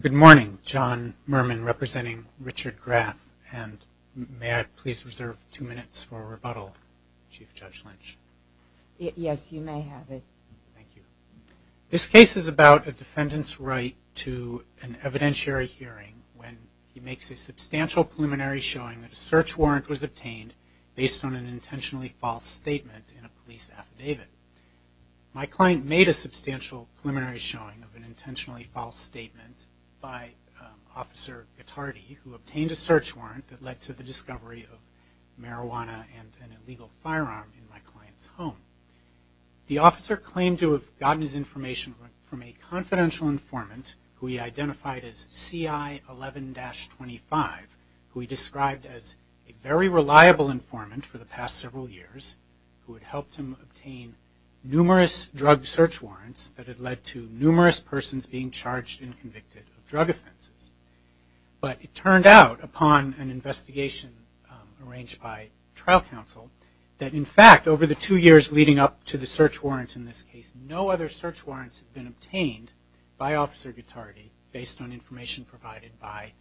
Good morning, John Mermin representing Richard Graf, and may I please reserve two minutes for rebuttal, Chief Judge Lynch? Yes, you may have it. Thank you. This case is about a defendant's right to an evidentiary hearing when he makes a substantial preliminary showing that a search warrant was obtained based on an intentionally false statement in a police affidavit. My client made a substantial preliminary showing of an intentionally false statement by Officer Gattardi who obtained a search warrant that led to the discovery of marijuana and an illegal firearm in my client's home. The officer claimed to have gotten his information from a confidential informant who he identified as CI 11-25, who he described as a very reliable informant for the past several years who had helped him obtain numerous drug search warrants that had led to numerous persons being charged and convicted of drug offenses, but it turned out upon an investigation arranged by trial counsel that in fact over the two years leading up to the search warrant in this case no other search warrants had been obtained by Officer Gattardi based on information provided by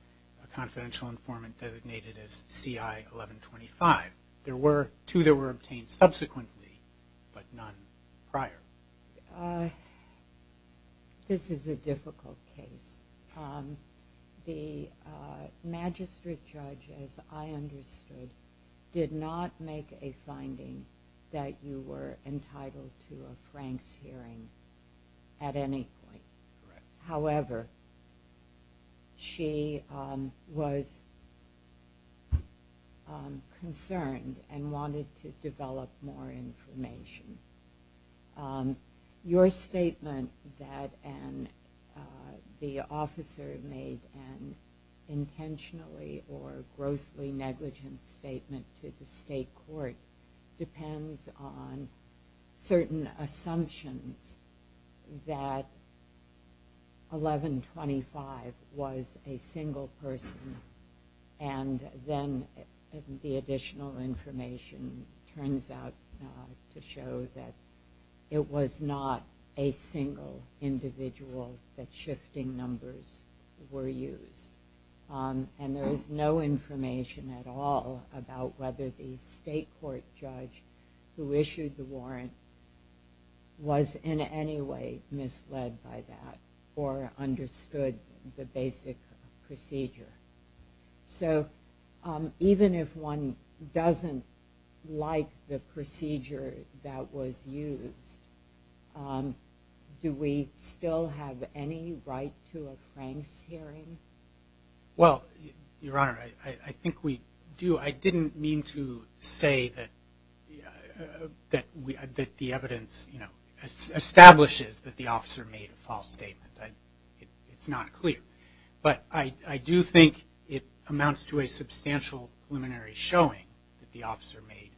a confidential informant designated as CI 11-25. There were two that were obtained subsequently, but none prior. This is a difficult case. The magistrate judge, as I understood, did not make a finding that you were entitled to a Franks hearing at any point. However, she was concerned and wanted to develop more information. Your statement that the officer made an intentionally or grossly negligent statement to the state court depends on certain assumptions that 11-25 was a single person and then the additional information turns out to show that it was not a single individual that shifting numbers were used. There is no information at all about whether the state court judge who issued the warrant was in any way misled by that or understood the basic procedure. So even if one doesn't like the procedure that was used, do we still have any right to a Franks hearing? Well, Your Honor, I think we do. I didn't mean to say that the evidence establishes that the officer made a false statement. It's not clear. But I do think it amounts to a substantial preliminary showing that the officer made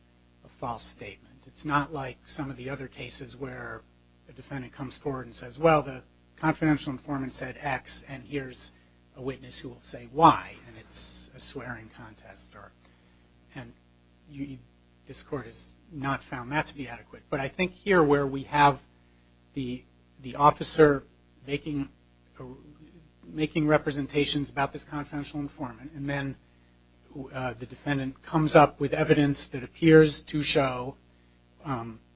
a false statement. It's not like some of the other cases where the defendant comes forward and says, well, the confidential informant said X, and here's a witness who will say Y, and it's a swearing contest. And this court has not found that to be adequate. But I think here where we have the officer making representations about this confidential informant and then the defendant comes up with evidence that appears to show,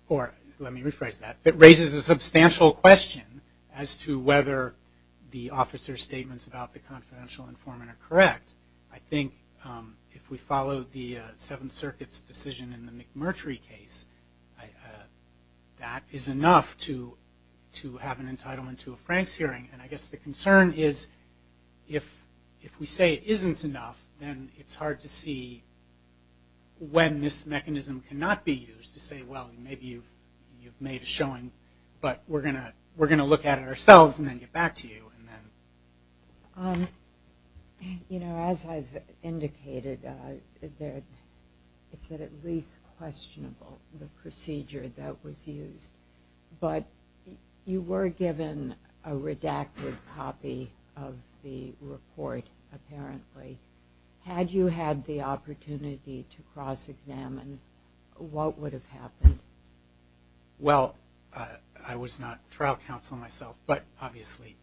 or let me rephrase that, that raises a substantial question as to whether the officer's statements about the confidential informant are correct. I think if we follow the Seventh Circuit's decision in the McMurtry case, that is enough to have an entitlement to a Franks hearing. And I guess the concern is if we say it isn't enough, then it's hard to see when this mechanism cannot be used to say, well, maybe you've made a showing, but we're going to look at it ourselves and then get back to you. You know, as I've indicated, it's at least questionable, the procedure that was used. But you were given a redacted copy of the report, apparently. Had you had the opportunity to cross-examine, what would have happened? Well, I was not trial counsel myself, but obviously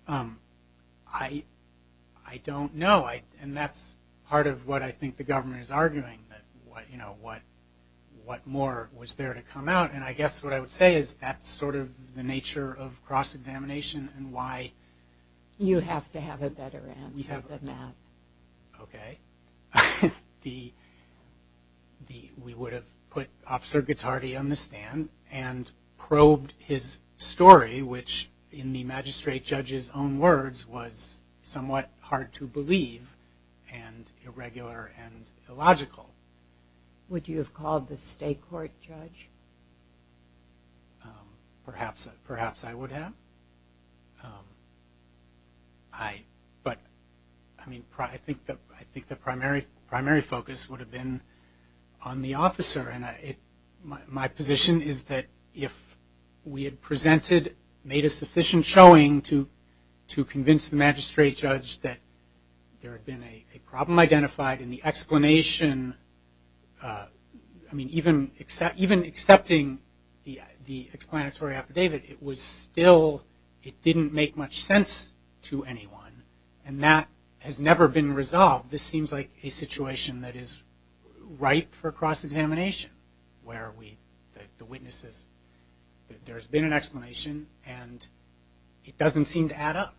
I don't know. And that's part of what I think the government is arguing, that, you know, what more was there to come out. And I guess what I would say is that's sort of the nature of cross-examination and why you have to have a better answer than that. Okay. We would have put Officer Guittardi on the stand and probed his story, which in the magistrate judge's own words was somewhat hard to believe and irregular and illogical. Would you have called the state court judge? Perhaps I would have. But I mean, I think the primary focus would have been on the officer. And my position is that if we had presented, made a sufficient showing to convince the magistrate judge that there had been a problem identified in the explanation, I mean, even accepting the explanatory affidavit, it was still, it didn't make much sense to anyone. And that has never been resolved. This seems like a situation that is ripe for cross-examination where we, the witnesses, that there's been an explanation and it doesn't seem to add up.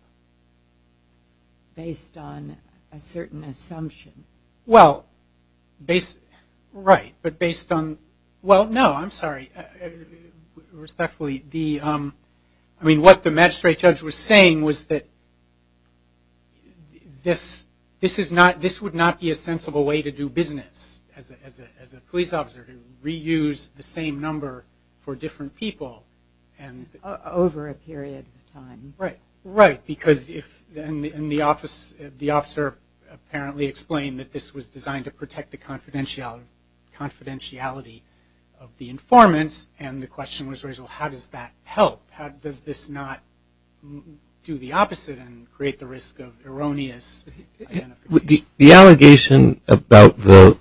Based on a certain assumption. Well, right, but based on, well, no, I'm sorry. Respectfully, the, I mean, what the magistrate judge was saying was that this is not, this would not be a sensible way to do business as a police officer, to reuse the same number for different people. Over a period of time. Right. Right, because if, and the officer apparently explained that this was designed to protect the confidentiality of the informants, and the question was raised, well, how does that help? How does this not do the opposite and create the risk of erroneous identification? The allegation about the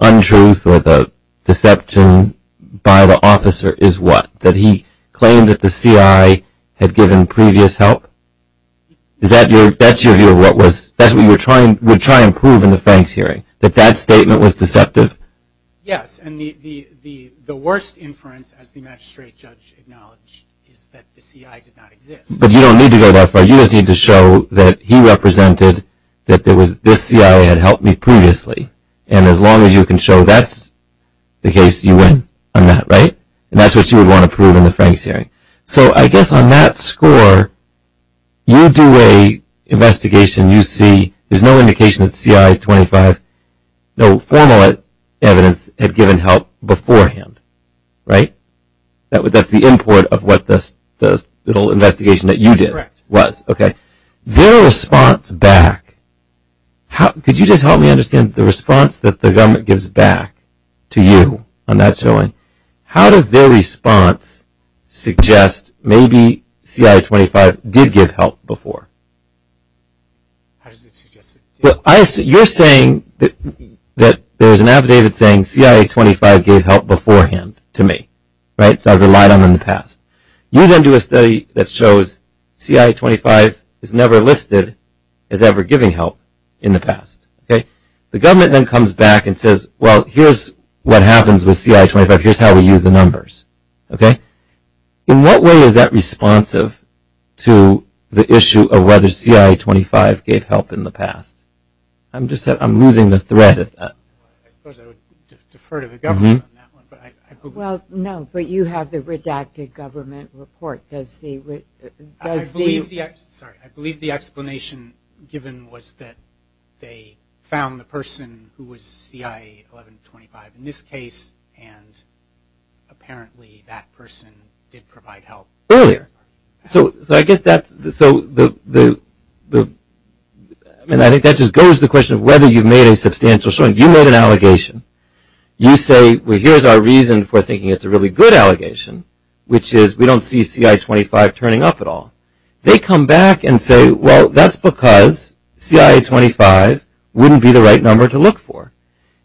untruth or the deception by the officer is what? That he claimed that the CIA had given previous help? Is that your, that's your view of what was, that's what you were trying, would try and prove in the Franks hearing, that that statement was deceptive? Yes, and the worst inference, as the magistrate judge acknowledged, is that the CIA did not exist. But you don't need to go that far. You just need to show that he represented that there was, this CIA had helped me previously. And as long as you can show that's the case, you win on that, right? And that's what you would want to prove in the Franks hearing. So I guess on that score, you do an investigation, you see there's no indication that CIA 25, no formal evidence had given help beforehand, right? That's the import of what the whole investigation that you did was, okay? Correct. Their response back, could you just help me understand the response that the government gives back to you on that showing? How does their response suggest maybe CIA 25 did give help before? How does it suggest it? Well, you're saying that there's an affidavit saying CIA 25 gave help beforehand to me, right? So I've relied on them in the past. You then do a study that shows CIA 25 is never listed as ever giving help in the past, okay? The government then comes back and says, well, here's what happens with CIA 25, here's how we use the numbers, okay? In what way is that responsive to the issue of whether CIA 25 gave help in the past? I'm losing the thread of that. I suppose I would defer to the government on that one. Well, no, but you have the redacted government report. I believe the explanation given was that they found the person who was CIA 1125 in this case, and apparently that person did provide help earlier. So I guess that's the – and I think that just goes to the question of whether you've made a substantial showing. You made an allegation. You say, well, here's our reason for thinking it's a really good allegation, which is we don't see CIA 25 turning up at all. They come back and say, well, that's because CIA 25 wouldn't be the right number to look for.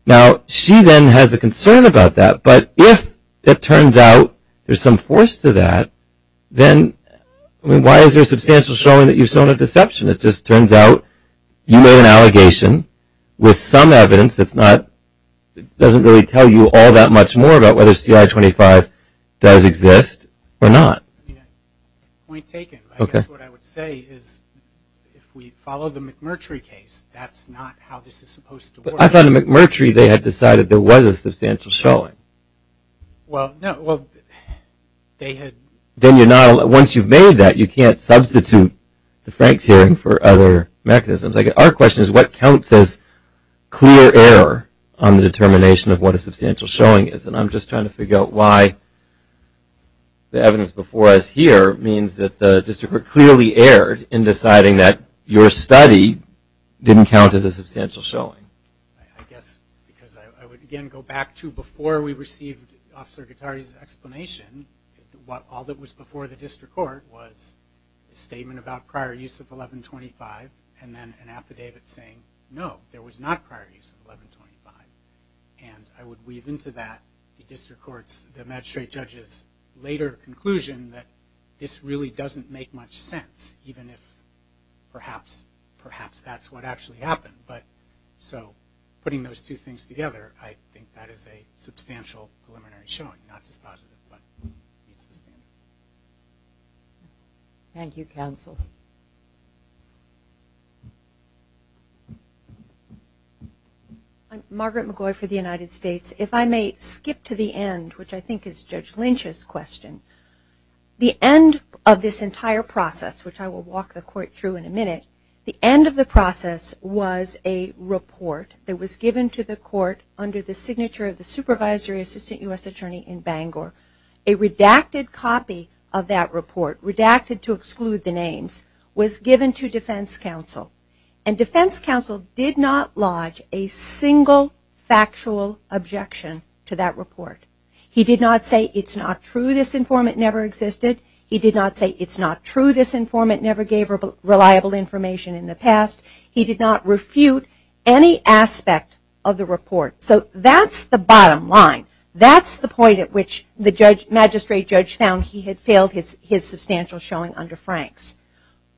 Now, she then has a concern about that, but if it turns out there's some force to that, then why is there a substantial showing that you've shown a deception? It just turns out you made an allegation with some evidence that's not – doesn't really tell you all that much more about whether CIA 25 does exist or not. Point taken. I guess what I would say is if we follow the McMurtry case, that's not how this is supposed to work. I thought in McMurtry they had decided there was a substantial showing. Well, no, well, they had – then you're not – once you've made that, you can't substitute the Franks hearing for other mechanisms. Our question is what counts as clear error on the determination of what a substantial showing is, and I'm just trying to figure out why the evidence before us here means that the district court clearly erred in deciding that your study didn't count as a substantial showing. I guess because I would, again, go back to before we received Officer Guattari's explanation. All that was before the district court was a statement about prior use of 1125 and then an affidavit saying no, there was not prior use of 1125. And I would weave into that the district court's – the magistrate judge's later conclusion that this really doesn't make much sense, even if perhaps that's what actually happened. But so putting those two things together, I think that is a substantial preliminary showing, not just positive, but consistent. Thank you, counsel. I'm Margaret McGoy for the United States. If I may skip to the end, which I think is Judge Lynch's question. The end of this entire process, which I will walk the court through in a minute, the end of the process was a report that was given to the court under the signature of the supervisory assistant U.S. attorney in Bangor. A redacted copy of that report, redacted to exclude the names, was given to defense counsel. And defense counsel did not lodge a single factual objection to that report. He did not say it's not true, this informant never existed. He did not say it's not true, this informant never gave reliable information in the past. He did not refute any aspect of the report. So that's the bottom line. That's the point at which the magistrate judge found he had failed his substantial showing under Franks.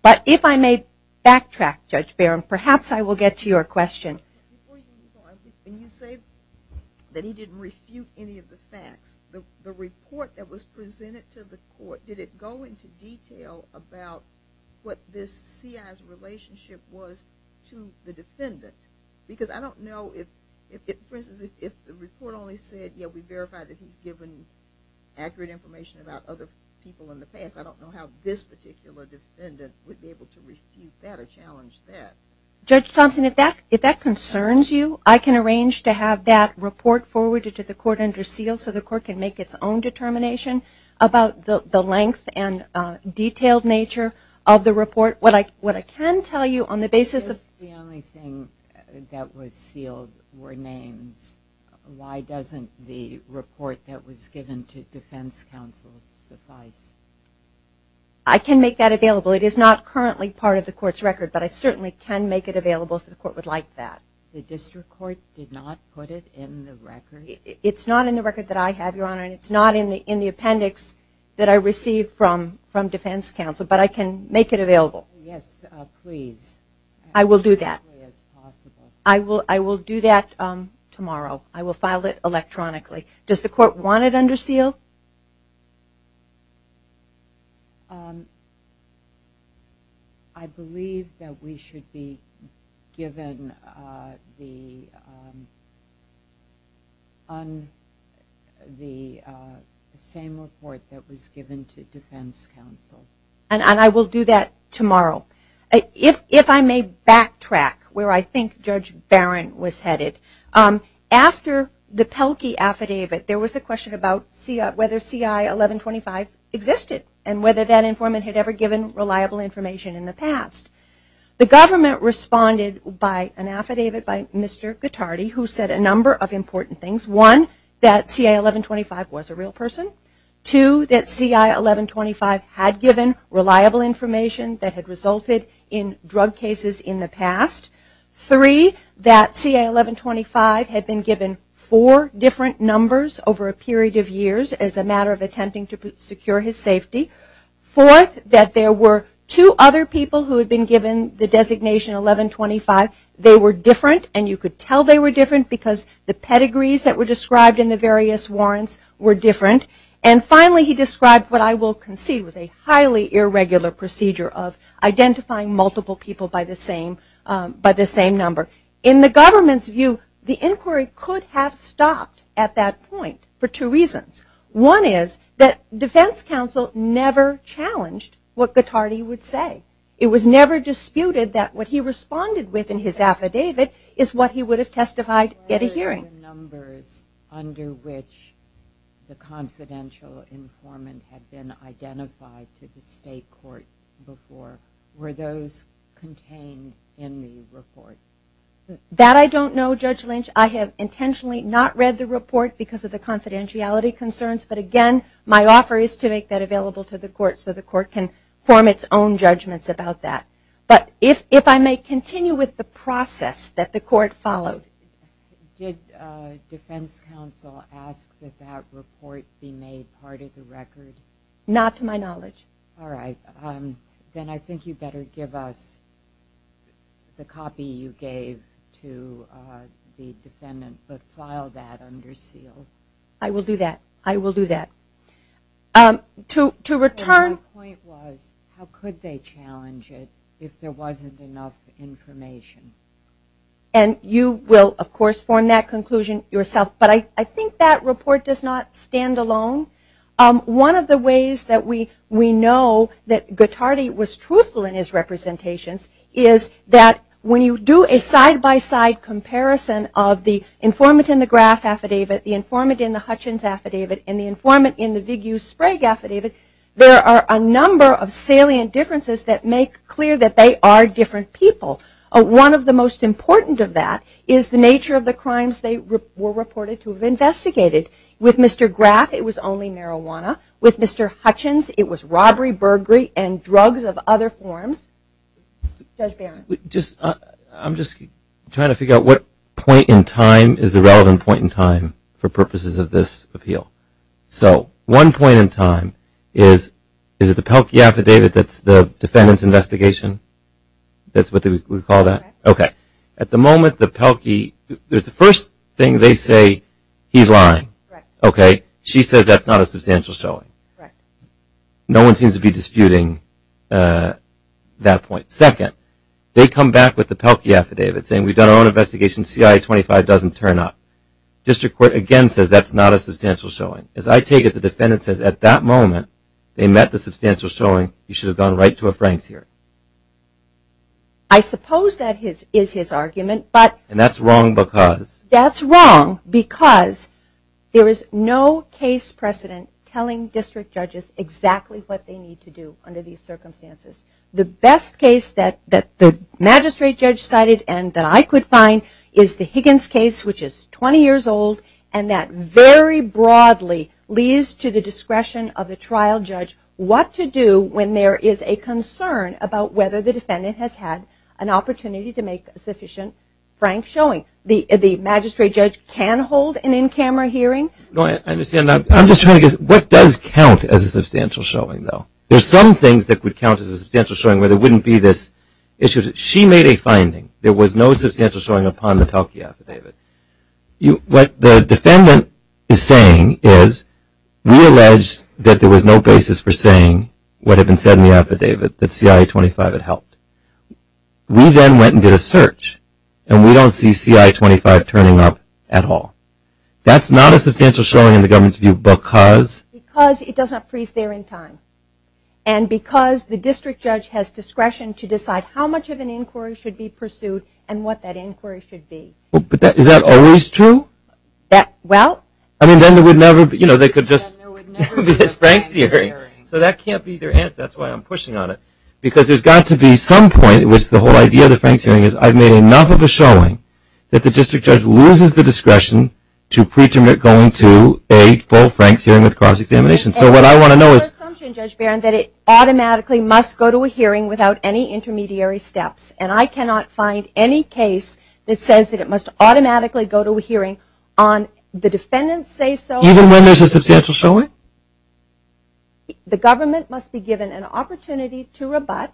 But if I may backtrack, Judge Barron, perhaps I will get to your question. When you say that he didn't refute any of the facts, the report that was presented to the court, did it go into detail about what this CI's relationship was to the defendant? Because I don't know if, for instance, if the report only said, yeah, we verified that he's given accurate information about other people in the past, I don't know how this particular defendant would be able to refute that or challenge that. Judge Thompson, if that concerns you, I can arrange to have that report forwarded to the court under seal so the court can make its own determination about the length and detailed nature of the report. What I can tell you on the basis of- If the only thing that was sealed were names, why doesn't the report that was given to defense counsel suffice? I can make that available. It is not currently part of the court's record, but I certainly can make it available if the court would like that. The district court did not put it in the record? It's not in the record that I have, Your Honor, and it's not in the appendix that I received from defense counsel, but I can make it available. Yes, please. I will do that. I will do that tomorrow. I will file it electronically. Does the court want it under seal? I believe that we should be given the same report that was given to defense counsel. And I will do that tomorrow. If I may backtrack where I think Judge Barron was headed. After the Pelkey affidavit, there was a question about whether CI-1125 existed and whether that informant had ever given reliable information in the past. The government responded by an affidavit by Mr. Gattardi, who said a number of important things. One, that CI-1125 was a real person. Two, that CI-1125 had given reliable information that had resulted in drug cases in the past. Three, that CI-1125 had been given four different numbers over a period of years as a matter of attempting to secure his safety. Fourth, that there were two other people who had been given the designation 1125. They were different, and you could tell they were different because the pedigrees that were described in the various warrants were different. And finally, he described what I will concede was a highly irregular procedure of identifying multiple people by the same number. In the government's view, the inquiry could have stopped at that point for two reasons. One is that defense counsel never challenged what Gattardi would say. It was never disputed that what he responded with in his affidavit What were the numbers under which the confidential informant had been identified to the state court before? Were those contained in the report? That I don't know, Judge Lynch. I have intentionally not read the report because of the confidentiality concerns, but again, my offer is to make that available to the court so the court can form its own judgments about that. But if I may continue with the process that the court followed. Did defense counsel ask that that report be made part of the record? Not to my knowledge. Alright, then I think you better give us the copy you gave to the defendant, but file that under seal. I will do that. I will do that. My point was, how could they challenge it if there wasn't enough information? And you will, of course, form that conclusion yourself. But I think that report does not stand alone. One of the ways that we know that Gattardi was truthful in his representations is that when you do a side-by-side comparison of the informant in the Graff Affidavit, the informant in the Hutchins Affidavit, and the informant in the Vigou-Sprague Affidavit, there are a number of salient differences that make clear that they are different people. One of the most important of that is the nature of the crimes they were reported to have investigated. With Mr. Graff, it was only marijuana. With Mr. Hutchins, it was robbery, burglary, and drugs of other forms. Judge Barron. I'm just trying to figure out what point in time is the relevant point in time for purposes of this appeal. So one point in time is, is it the Pelkey Affidavit that's the defendant's investigation? That's what we call that? Okay. At the moment, the Pelkey, the first thing they say, he's lying. Okay. She says that's not a substantial showing. No one seems to be disputing that point. Second, they come back with the Pelkey Affidavit saying, we've done our own investigation, C.I.A. 25 doesn't turn up. District Court, again, says that's not a substantial showing. As I take it, the defendant says at that moment they met the substantial showing, you should have gone right to a Frank's hearing. I suppose that is his argument, but. And that's wrong because. That's wrong because there is no case precedent telling district judges exactly what they need to do under these circumstances. The best case that the magistrate judge cited and that I could find is the Higgins case, which is 20 years old, and that very broadly leads to the discretion of the trial judge what to do when there is a concern about whether the defendant has had an opportunity to make a sufficient Frank showing. The magistrate judge can hold an in-camera hearing. I'm just trying to guess, what does count as a substantial showing, though? There are some things that would count as a substantial showing where there wouldn't be this issue. She made a finding. There was no substantial showing upon the Pelkey affidavit. What the defendant is saying is, we allege that there was no basis for saying what had been said in the affidavit, that C.I.A. 25 had helped. We then went and did a search, and we don't see C.I.A. 25 turning up at all. That's not a substantial showing in the government's view because. Because it does not freeze there in time, and because the district judge has discretion to decide how much of an inquiry should be pursued and what that inquiry should be. Is that always true? Well. Then there would never be this Frank hearing. So that can't be their answer. That's why I'm pushing on it, because there's got to be some point at which the whole idea of the Frank's hearing is, I've made enough of a showing that the district judge loses the discretion to preterminate going to a full Frank's hearing with cross-examination. So what I want to know is. There's an assumption, Judge Barron, that it automatically must go to a hearing without any intermediary steps. And I cannot find any case that says that it must automatically go to a hearing on the defendant's say-so. Even when there's a substantial showing? The government must be given an opportunity to rebut,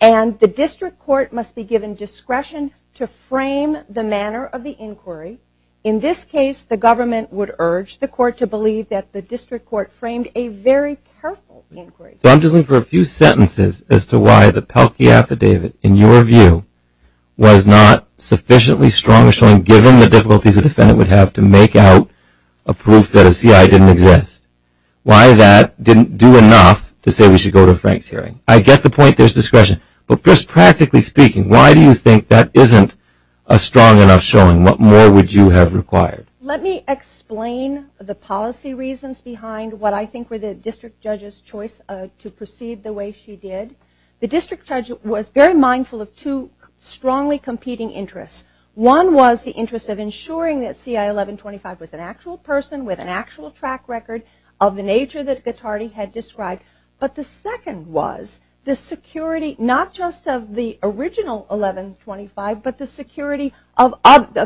and the district court must be given discretion to frame the manner of the inquiry. In this case, the government would urge the court to believe that the district court framed a very careful inquiry. So I'm just looking for a few sentences as to why the Pelkey affidavit, in your view, was not sufficiently strong a showing, given the difficulties a defendant would have to make out a proof that a CI didn't exist. Why that didn't do enough to say we should go to a Frank's hearing. I get the point. There's discretion. But just practically speaking, why do you think that isn't a strong enough showing? What more would you have required? Let me explain the policy reasons behind what I think were the district judge's choice to proceed the way she did. The district judge was very mindful of two strongly competing interests. One was the interest of ensuring that CI-1125 was an actual person with an actual track record of the nature that Guattardi had described. But the second was the security, not just of the original 1125, but the security of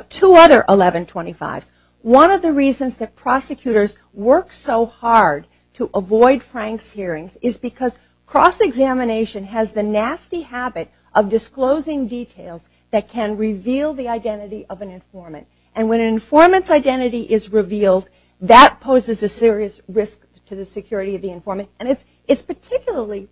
two other 1125s. One of the reasons that prosecutors work so hard to avoid Frank's hearings is because cross-examination has the nasty habit of disclosing details that can reveal the identity of an informant. And when an informant's identity is revealed, that poses a serious risk to the security of the informant. And it's particularly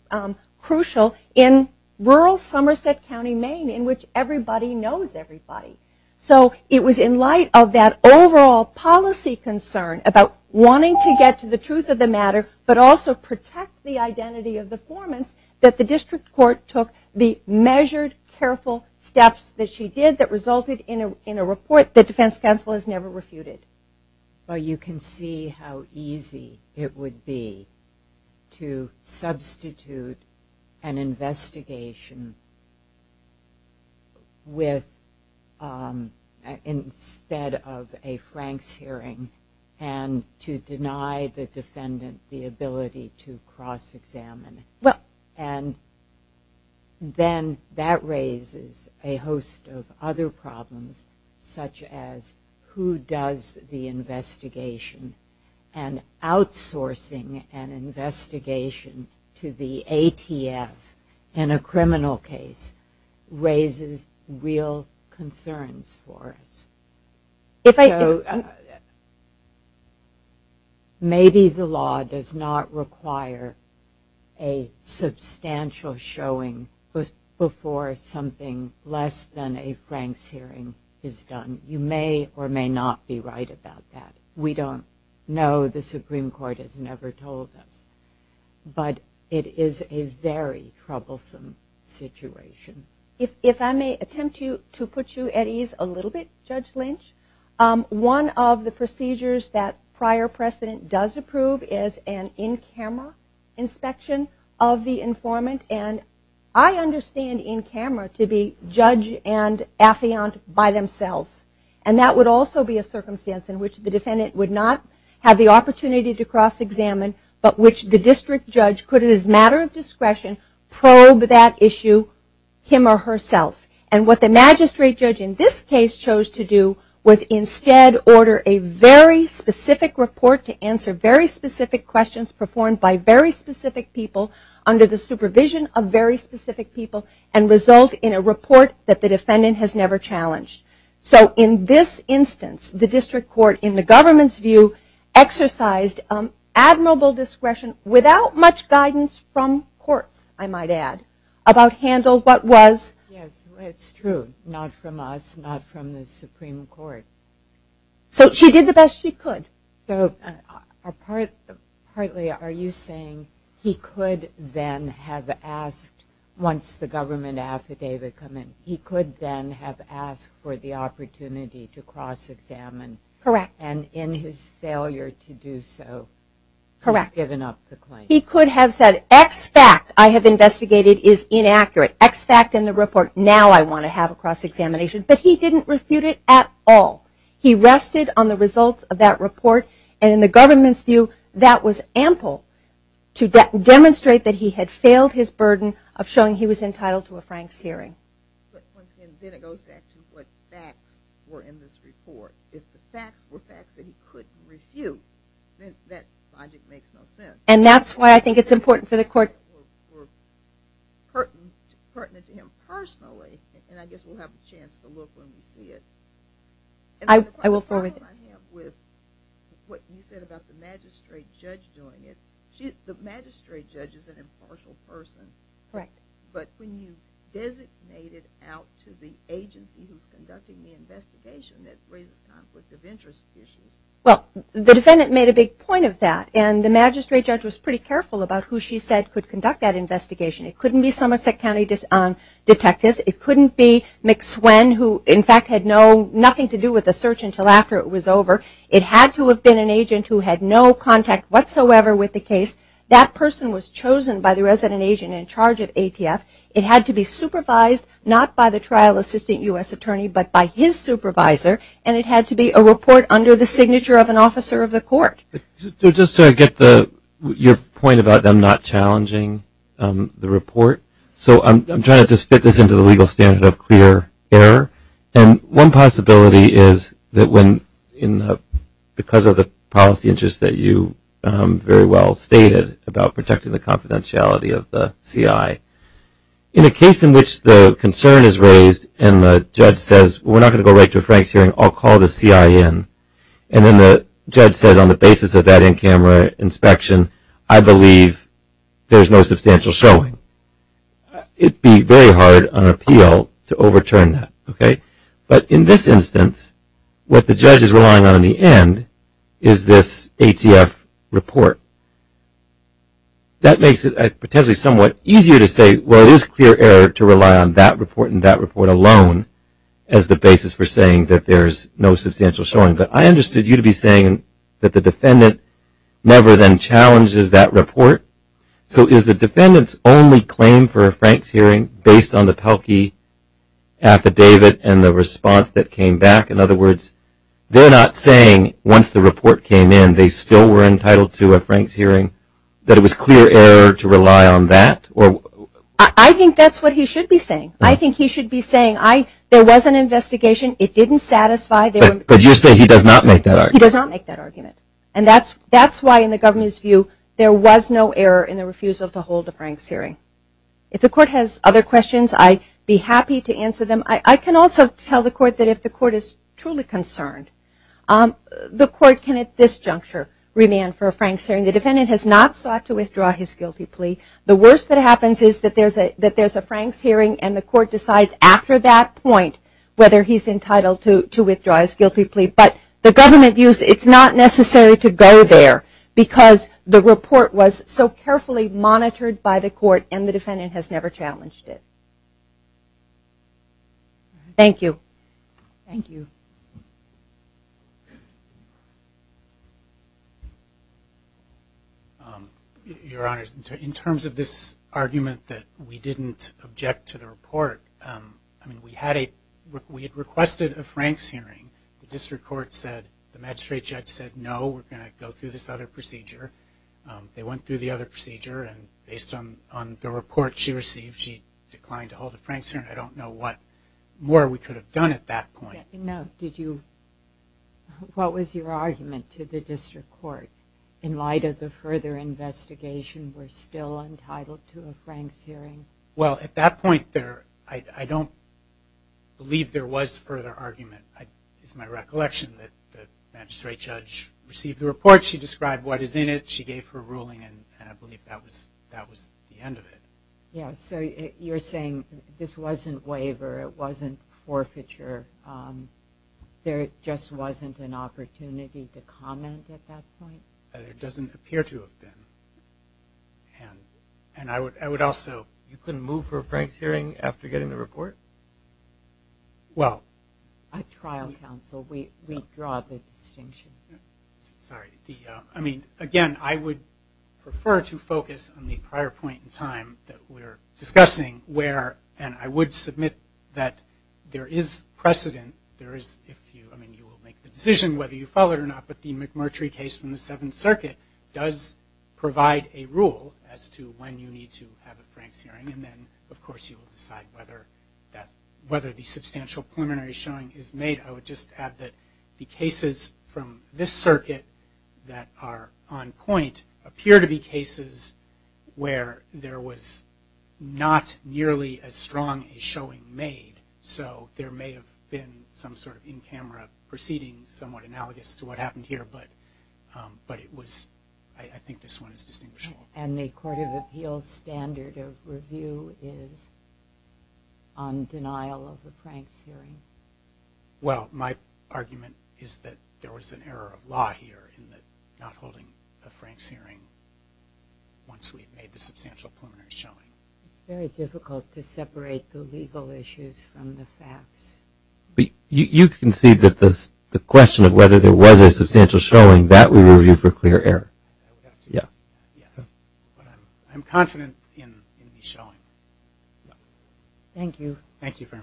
crucial in rural Somerset County, Maine, in which everybody knows everybody. So it was in light of that overall policy concern about wanting to get to the truth of the matter, but also protect the identity of the informant, that the district court took the measured, careful steps that she did that resulted in a report that defense counsel has never refuted. But you can see how easy it would be to substitute an investigation instead of a Frank's hearing and to deny the defendant the ability to cross-examine. And then that raises a host of other problems, such as who does the investigation? And outsourcing an investigation to the ATF in a criminal case raises real concerns for us. So maybe the law does not require a substantial showing before something less than a Frank's hearing is done. You may or may not be right about that. We don't know. The Supreme Court has never told us. But it is a very troublesome situation. If I may attempt to put you at ease a little bit, Judge Lynch, one of the procedures that prior precedent does approve is an in-camera inspection of the informant. And I understand in-camera to be judge and affiant by themselves. And that would also be a circumstance in which the defendant would not have the opportunity to cross-examine, but which the district judge could, as a matter of discretion, probe that issue him or herself. And what the magistrate judge in this case chose to do was instead order a very specific report to answer very specific questions performed by very specific people under the supervision of very specific people and result in a report that the defendant has never challenged. So in this instance, the district court, in the government's view, exercised admirable discretion, without much guidance from courts, I might add, about handle what was... Yes, it's true. Not from us, not from the Supreme Court. So she did the best she could. So partly are you saying he could then have asked, once the government affidavit come in, he could then have asked for the opportunity to cross-examine. Correct. And in his failure to do so, he's given up the claim. He could have said, X fact I have investigated is inaccurate. X fact in the report, now I want to have a cross-examination. But he didn't refute it at all. He rested on the results of that report. And in the government's view, that was ample to demonstrate that he had failed his burden of showing he was entitled to a Frank's hearing. But once again, then it goes back to what facts were in this report. If the facts were facts that he couldn't refute, then that project makes no sense. And that's why I think it's important for the court... Or pertinent to him personally, and I guess we'll have a chance to look when we see it. I will forward... And the problem I have with what you said about the magistrate judge doing it, the magistrate judge is an impartial person. Correct. But when you designate it out to the agency who's conducting the investigation, that raises conflict of interest issues. Well, the defendant made a big point of that. And the magistrate judge was pretty careful about who she said could conduct that investigation. It couldn't be Somerset County detectives. It couldn't be McSwen, who in fact had nothing to do with the search until after it was over. It had to have been an agent who had no contact whatsoever with the case. That person was chosen by the resident agent in charge of ATF. It had to be supervised, not by the trial assistant U.S. attorney, but by his supervisor. And it had to be a report under the signature of an officer of the court. Just to get your point about them not challenging the report, so I'm trying to just fit this into the legal standard of clear error. And one possibility is that because of the policy interest that you very well stated about protecting the confidentiality of the CI, in a case in which the concern is raised and the judge says, we're not going to go right to a Frank's hearing, I'll call the CI in, and then the judge says on the basis of that in-camera inspection, I believe there's no substantial showing. It would be very hard on an appeal to overturn that. But in this instance, what the judge is relying on in the end is this ATF report. That makes it potentially somewhat easier to say, well, it is clear error to rely on that report and that report alone as the basis for saying that there's no substantial showing. But I understood you to be saying that the defendant never then challenges that report. So is the defendant's only claim for a Frank's hearing based on the Pelkey affidavit and the response that came back? In other words, they're not saying once the report came in, they still were entitled to a Frank's hearing, that it was clear error to rely on that? I think that's what he should be saying. I think he should be saying, there was an investigation. It didn't satisfy. But you're saying he does not make that argument. He does not make that argument. That's why in the government's view, there was no error in the refusal to hold a Frank's hearing. If the court has other questions, I'd be happy to answer them. I can also tell the court that if the court is truly concerned, the court can at this juncture remand for a Frank's hearing. The defendant has not sought to withdraw his guilty plea. The worst that happens is that there's a Frank's hearing, and the court decides after that point whether he's entitled to withdraw his guilty plea. But the government views it's not necessary to go there, because the report was so carefully monitored by the court, and the defendant has never challenged it. Thank you. Thank you. Your Honors, in terms of this argument that we didn't object to the report, we had requested a Frank's hearing. The district court said, the magistrate judge said, no, we're going to go through this other procedure. They went through the other procedure, and based on the report she received, she declined to hold a Frank's hearing. I don't know what more we could have done at that point. What was your argument to the district court in light of the further investigation we're still entitled to a Frank's hearing? Well, at that point, I don't believe there was further argument. It's my recollection that the magistrate judge received the report. She described what is in it. She gave her ruling, and I believe that was the end of it. Yeah, so you're saying this wasn't waiver. It wasn't forfeiture. There just wasn't an opportunity to comment at that point? It doesn't appear to have been. And I would also – You couldn't move for a Frank's hearing after getting the report? Well – At trial counsel, we draw the distinction. Sorry. I mean, again, I would prefer to focus on the prior point in time that we're discussing where – and I would submit that there is precedent. There is – I mean, you will make the decision whether you follow it or not, but the McMurtry case from the Seventh Circuit does provide a rule as to when you need to have a Frank's hearing. And then, of course, you will decide whether the substantial preliminary showing is made. I would just add that the cases from this circuit that are on point appear to be cases where there was not nearly as strong a showing made. So there may have been some sort of in-camera proceeding somewhat analogous to what happened here, but it was – I think this one is distinguishable. And the Court of Appeals standard of review is on denial of a Frank's hearing? Well, my argument is that there was an error of law here in not holding a Frank's hearing once we had made the substantial preliminary showing. It's very difficult to separate the legal issues from the facts. You can see that the question of whether there was a substantial showing, that we review for clear error. Yeah. I'm confident in the showing. Thank you. Thank you very much.